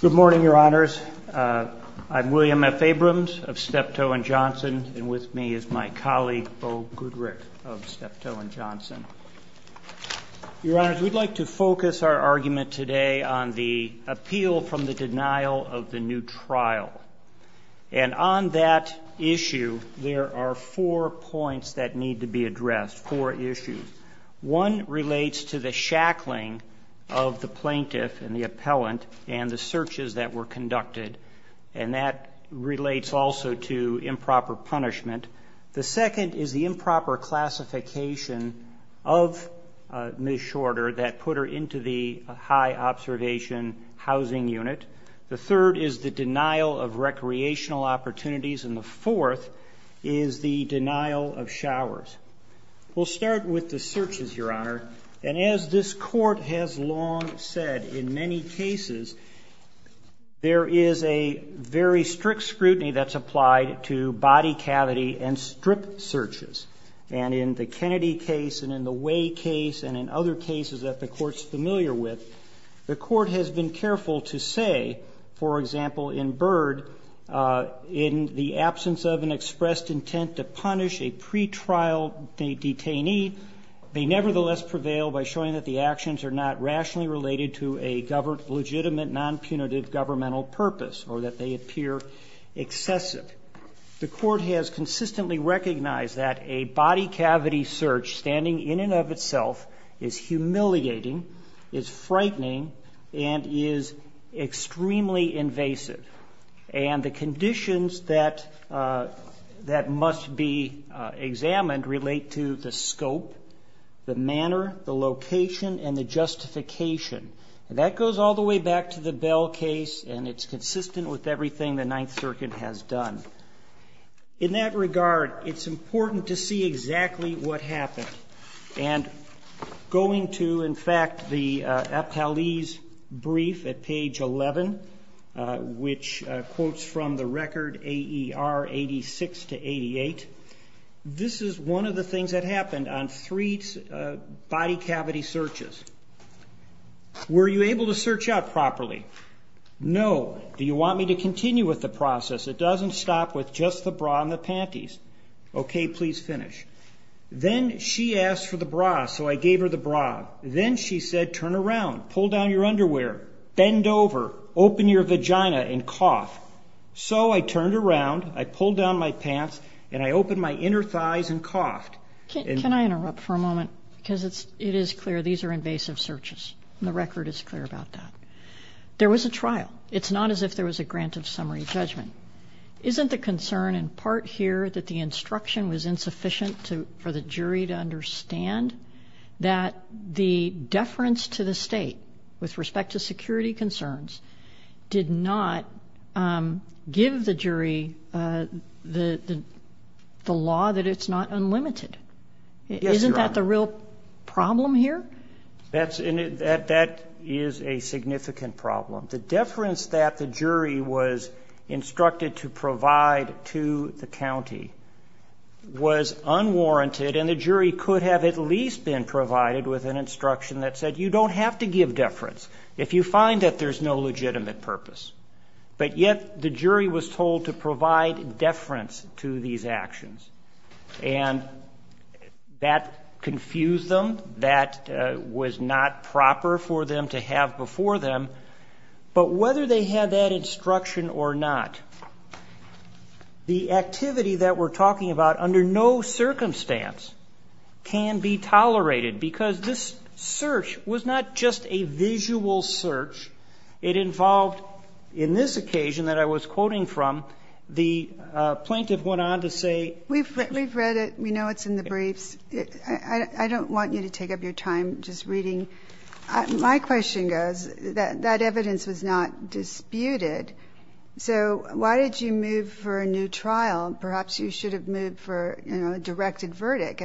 Good morning, Your Honors. I'm William F. Abrams of Steptoe & Johnson, and with me is my colleague, Bo Goodrick of Steptoe & Johnson. Your Honors, we'd like to focus our argument today on the appeal from the denial of the new trial. And on that issue, there are four points that need to be addressed, four issues. One relates to the shackling of the plaintiff and the appellant and the searches that were conducted, and that relates also to improper punishment. The second is the improper classification of Ms. Shorter that put her into the high observation housing unit. The third is the denial of recreational opportunities, and the fourth is the denial of showers. We'll start with the searches, Your Honor, and as this Court has long said, in many cases, there is a very strict scrutiny that's applied to body cavity and strip searches. And in the Kennedy case and in the Way case and in other cases that the Court's familiar with, the Court has been careful to say, for example, in Byrd, in the absence of an expressed intent to punish a pretrial detainee, they nevertheless prevail by showing that the actions are not rationally related to a legitimate, non-punitive governmental purpose or that they appear excessive. The Court has consistently recognized that a body cavity search standing in and of itself is humiliating, is frightening, and is extremely and the justification. And that goes all the way back to the Bell case, and it's consistent with everything the Ninth Circuit has done. In that regard, it's important to see exactly what happened. And going to, in fact, the Aptalese brief at page 11, which quotes from the record AER 86 to 88, this is one of the things that happened on three body cavity searches. Were you able to search out properly? No. Do you want me to continue with the process? It doesn't stop with just the bra and the panties. Okay, please finish. Then she asked for the bra, so I gave her the bra. Then she said, turn around, pull down your underwear, bend over, open your vagina and cough. So I turned around, I pulled down my pants, and I opened my inner thighs and coughed. Can I interrupt for a moment? Because it is clear these are invasive searches, and the record is clear about that. There was a trial. It's not as if there was a grant of summary judgment. Isn't the concern in part here that the instruction was insufficient for the jury to understand that the deference to the State with respect to security concerns did not give the jury the law that it's not unlimited? Isn't that the real problem here? That is a significant problem. The deference that the jury was instructed to provide to the county was unwarranted, and the jury could have at least been provided with an instruction that said, you don't have to give deference if you find that there's no legitimate purpose. But yet the jury was told to provide deference to these actions. And that confused them. That was not proper for them to have before them. But whether they had that instruction or not, the activity that we're talking about under no circumstance can be tolerated, because this search was not just a visual search. It involved, in this occasion that I was quoting from, the plaintiff went on to say... We've read it. We know it's in the briefs. I don't want you to take up your time just reading. My question goes, that evidence was not disputed. So why did you move for a new trial at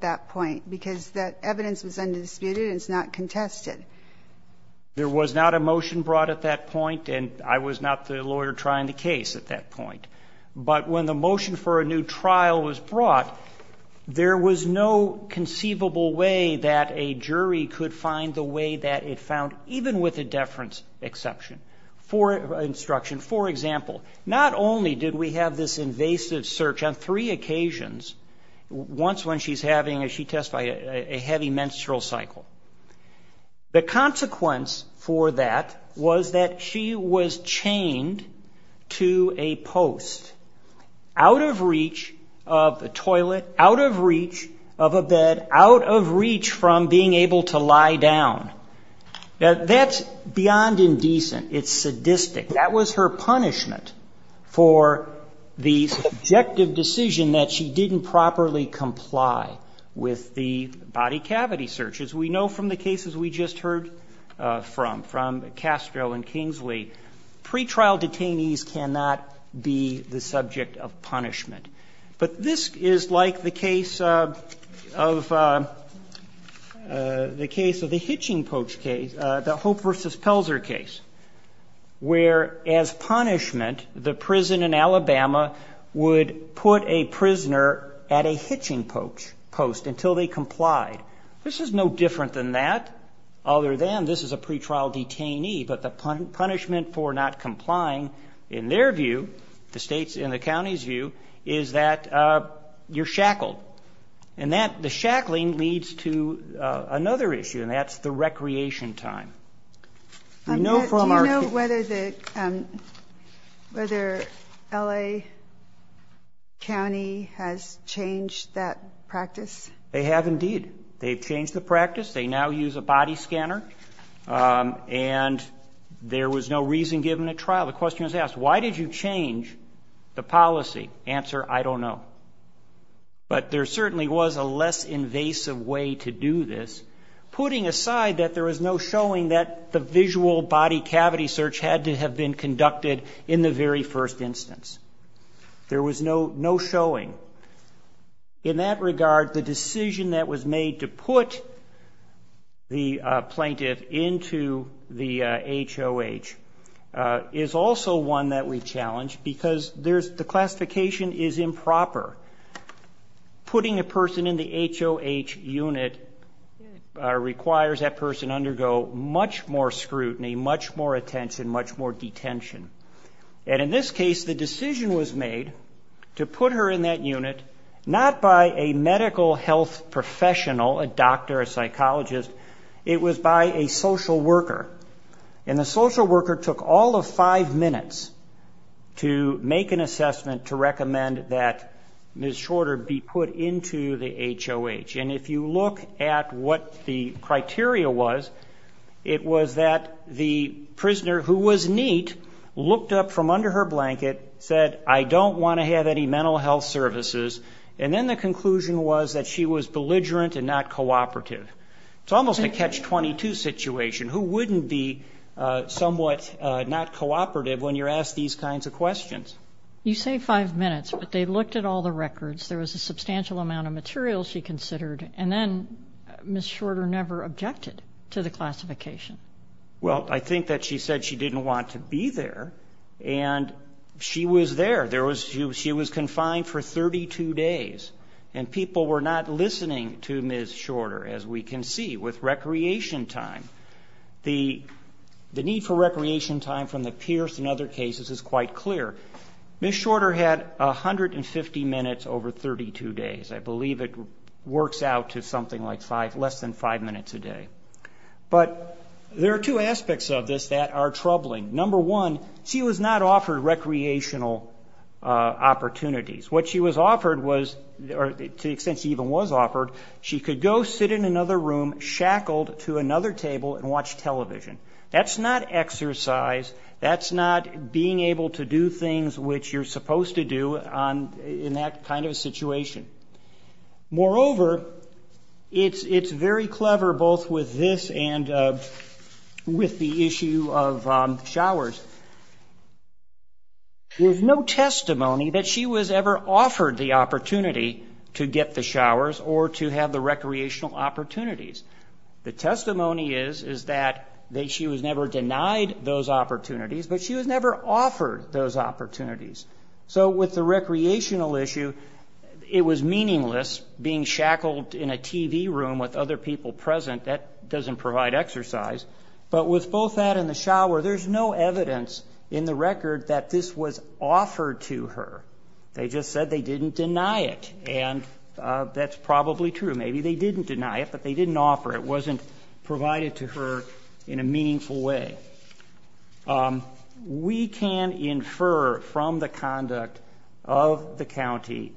that point? Because that evidence was undisputed and it's not contested. There was not a motion brought at that point, and I was not the lawyer trying the case at that point. But when the motion for a new trial was brought, there was no conceivable way that a jury could find the way that it found, even with a deference exception, for instruction. For example, not only did we have this invasive search on three occasions, once when she testified, a heavy menstrual cycle. The consequence for that was that she was chained to a post, out of reach of a toilet, out of reach of a bed, out of reach from being able to lie down. That's beyond indecent. It's sadistic. That was her punishment for the subjective decision that she didn't properly comply with the body cavity search. As we know from the cases we just heard from, from Castro and Kingsley, pretrial detainees cannot be the subject of punishment. But this is like the case of, the case of the hitching post. Alabama would put a prisoner at a hitching post until they complied. This is no different than that, other than this is a pretrial detainee. But the punishment for not complying, in their view, the state's, in the county's view, is that you're shackled. And that, the shackling leads to another issue, and that's the recreation time. Do you know whether the, whether L.A. County has changed that practice? They have indeed. They've changed the practice. They now use a body scanner. And there was no reason given at trial. The question was asked, why did you change the policy? Answer, I don't know. But there certainly was a less invasive way to do this. Putting aside that there was no showing that the visual body cavity search had to have been conducted in the very first instance. There was no, no showing. In that regard, the decision that was made to put the plaintiff into the HOH is also one that we challenge, because there's, the classification is improper. Putting a person in the HOH unit requires that person undergo much more scrutiny, much more attention, much more detention. And in this case, the decision was made to put her in that unit, not by a medical health professional, a doctor, a psychologist, it was by a social worker. And the social worker took all of five minutes to make an assessment to recommend that Ms. Shorter be put into the HOH. And if you look at what the criteria was, it was that the prisoner, who was neat, looked up from under her blanket, said, I don't want to have any mental health services. And then the conclusion was that she was belligerent and not cooperative. It's almost a catch-22 situation. Who wouldn't be somewhat not cooperative when you're asked these kinds of questions? You say five minutes, but they looked at all the records. There was a substantial amount of material she considered, and then Ms. Shorter never objected to the classification. Well, I think that she said she didn't want to be there, and she was there. She was confined for 32 days, and people were not listening to Ms. Shorter, as we can see with recreation time. The need for recreation time from the Pierce and other cases is quite clear. Ms. Shorter, I believe, works out to something like less than five minutes a day. But there are two aspects of this that are troubling. Number one, she was not offered recreational opportunities. What she was offered was, or to the extent she even was offered, she could go sit in another room, shackled to another table, and watch television. That's not exercise. That's not being able to do things which you're supposed to do in that kind of a situation. Moreover, it's very clever both with this and with the issue of showers. There's no testimony that she was ever offered the opportunity to get the showers or to have the recreational opportunities. The testimony is that she was never denied those opportunities, but she was never offered those opportunities. So with the recreational issue, it was meaningless being shackled in a TV room with other people present. That doesn't provide exercise. But with both that and the shower, there's no evidence in the record that this was offered to her. They just said they didn't deny it, and that's probably true. Maybe they didn't deny it, but they didn't offer it. It wasn't provided to her in a meaningful way. We can infer from the conduct of the county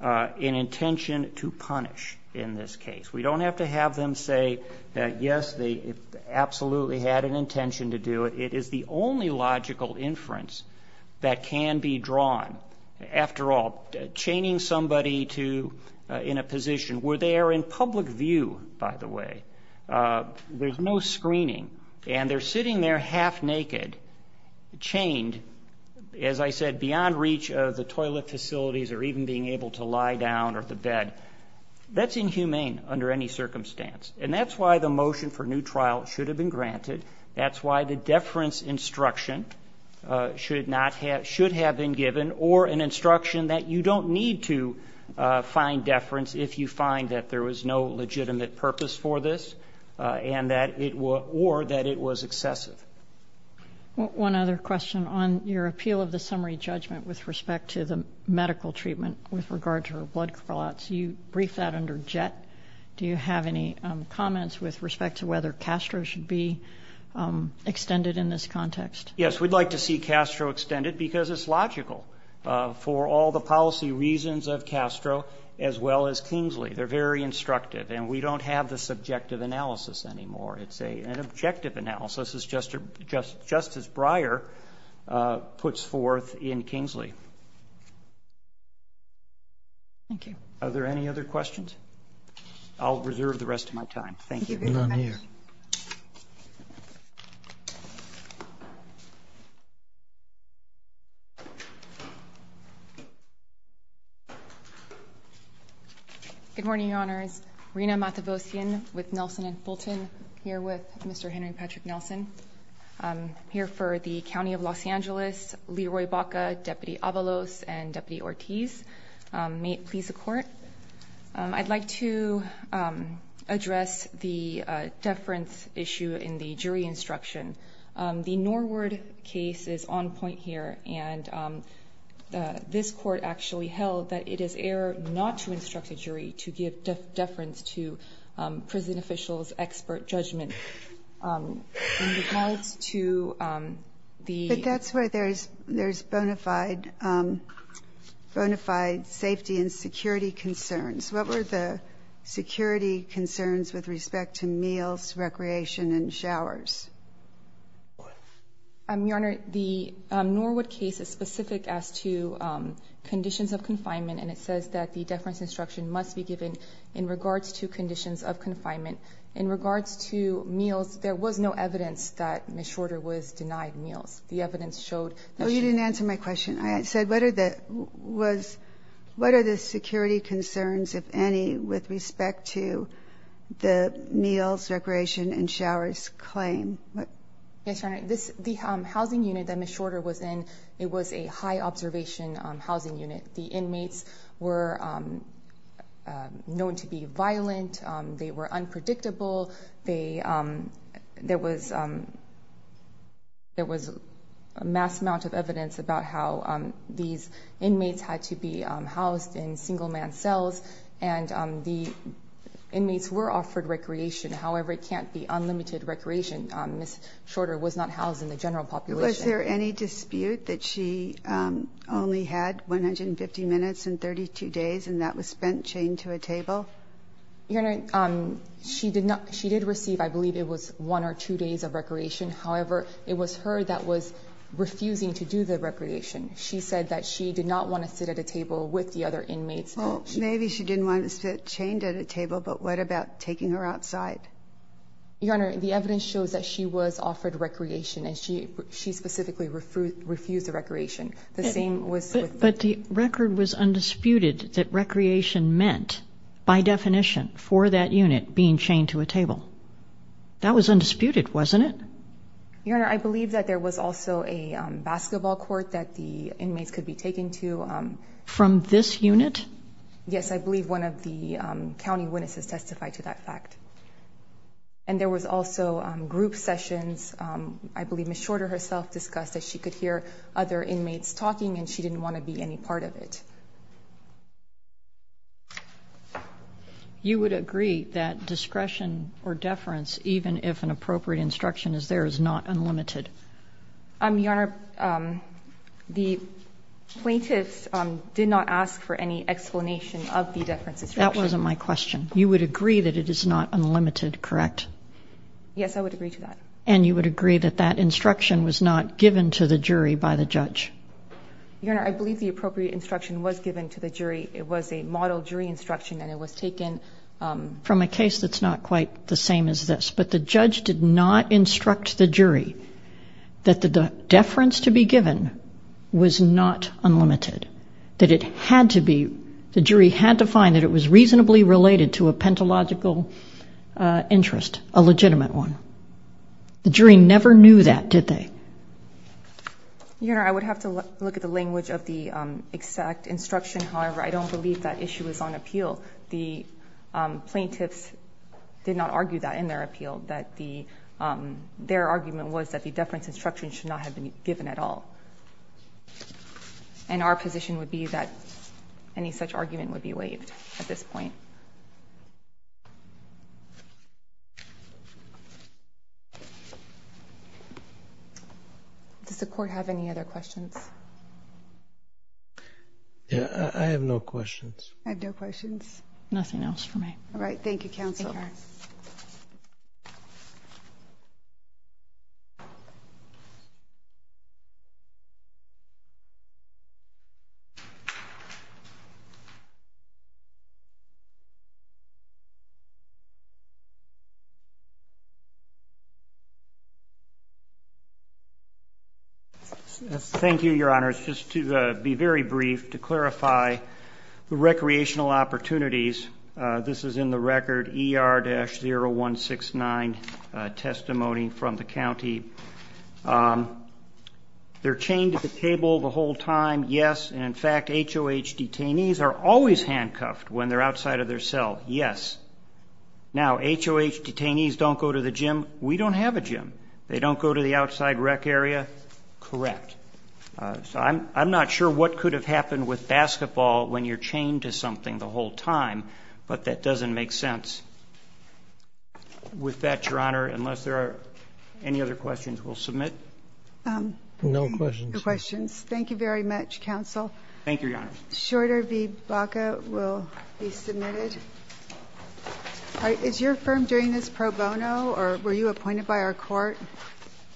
an intention to punish in this case. We don't have to have them say that, yes, they absolutely had an intention to do it. It is the only logical inference that can be drawn. After all, chaining somebody in a position where they are in public view, by the way, there's no screening, and they're sitting there half naked, chained, as I said, beyond reach of the toilet facilities or even being able to lie down or the bed, that's inhumane under any circumstance. And that's why the motion for new trial should have been granted. That's why the deference instruction should have been given or an instruction that you don't need to find deference if you find that there was no legitimate purpose for this or that it was excessive. One other question. On your appeal of the summary judgment with respect to the medical treatment with regard to her blood callouts, you briefed that under JET. Do you have any comments with respect to whether CASTRO should be extended in this context? Yes, we'd like to see CASTRO extended because it's logical for all the policy reasons of CASTRO as well as Kingsley. They're very instructive, and we don't have the subjective analysis anymore. It's an objective analysis, just as Breyer puts forth in Kingsley. Are there any other questions? I'll reserve the rest of my time. Thank you. Good morning, Your Honors. Rina Matavosian with Nelson and Fulton here with Mr. Henry Patrick Nelson. I'm here for the County of Los Angeles, Leroy Baca, Deputy Avalos, and Deputy Ortiz. May it please the Court. I'd like to address the deference issue in the case that is on point here. This Court actually held that it is error not to instruct a jury to give deference to prison officials' expert judgment. That's where there's bona fide safety and security concerns. What were the security concerns with respect to meals, recreation, and showers? Your Honor, the Norwood case is specific as to conditions of confinement, and it says that the deference instruction must be given in regards to conditions of confinement. In regards to meals, there was no evidence that Ms. Shorter was denied meals. The evidence showed that she was denied meals. No, you didn't answer my question. I said, what are the security concerns, if any, with respect to the meals, recreation, and showers claim? Yes, Your Honor. The housing unit that Ms. Shorter was in, it was a high-observation housing unit. The inmates were known to be violent. They were unpredictable. There was a mass amount of evidence about how these inmates had to be housed in single-man cells, and the inmates were offered recreation. However, it can't be unlimited recreation. Ms. Shorter was not housed in the general population. Was there any dispute that she only had 150 minutes and 32 days, and that was spent chained to a table? Your Honor, she did receive, I believe it was one or two days of recreation. However, it was her that was refusing to do the recreation. She said that she did not want to sit at a table with the other inmates. Well, maybe she didn't want to sit chained at a table, but what about taking her outside? Your Honor, the evidence shows that she was offered recreation, and she specifically refused the recreation. The same was with... But the record was undisputed that recreation meant, by definition, for that unit being chained to a table. That was undisputed, wasn't it? Your Honor, I believe that there was also a basketball court that the inmates could be taken to. From this unit? Yes, I believe one of the county witnesses testified to that fact. And there was also group sessions. I believe Ms. Shorter herself discussed that she could hear other inmates talking, and she didn't want to be any part of it. You would agree that discretion or deference, even if an appropriate instruction is there, is not unlimited? Your Honor, the plaintiffs did not ask for any explanation of the deference instruction. That wasn't my question. You would agree that it is not unlimited, correct? Yes, I would agree to that. And you would agree that that instruction was not given to the jury by the judge? Your Honor, I believe the appropriate instruction was given to the jury. It was a model jury instruction, and it was taken... from a case that's not quite the same as this. But the judge did not instruct the jury that the deference to be given was not unlimited, that it had to be... the jury had to find that it was reasonably related to a pentalogical interest, a legitimate one. The jury never knew that, did they? Your Honor, I would have to look at the language of the exact instruction. However, I don't believe that issue is on appeal. The plaintiffs did not argue that in their appeal, that the... their argument was that the deference instruction should not have been given at all. And our position would be that any such argument would be waived at this point. Does the Court have any other questions? Yeah, I have no questions. I have no questions. Nothing else for me. Thank you, Your Honor. Thank you, Your Honor. Just to be very brief, to clarify the recreational opportunities, this is in the record, ER-0169, testimony from the county. They're chained to the table the whole time, yes. And in fact, HOH detainees are always handcuffed when they're outside of their cell, yes. Now, HOH detainees don't go to the gym. We don't have a gym. They don't go to the outside rec area, correct. So I'm not sure what could have happened with basketball when you're chained to something the whole time, but that doesn't make sense. With that, Your Honor, unless there are any other questions, we'll submit. No questions. No questions. Thank you very much, counsel. Thank you, Your Honor. Shorter v. Baca will be submitted. Is your firm doing this pro bono, or were you appointed by our court?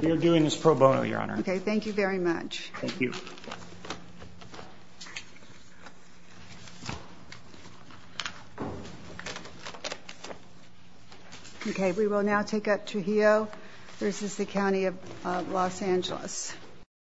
We are doing this pro bono, Your Honor. Okay, thank you very much. Thank you. Thank you. Okay, we will now take up Trujillo v. The County of Los Angeles.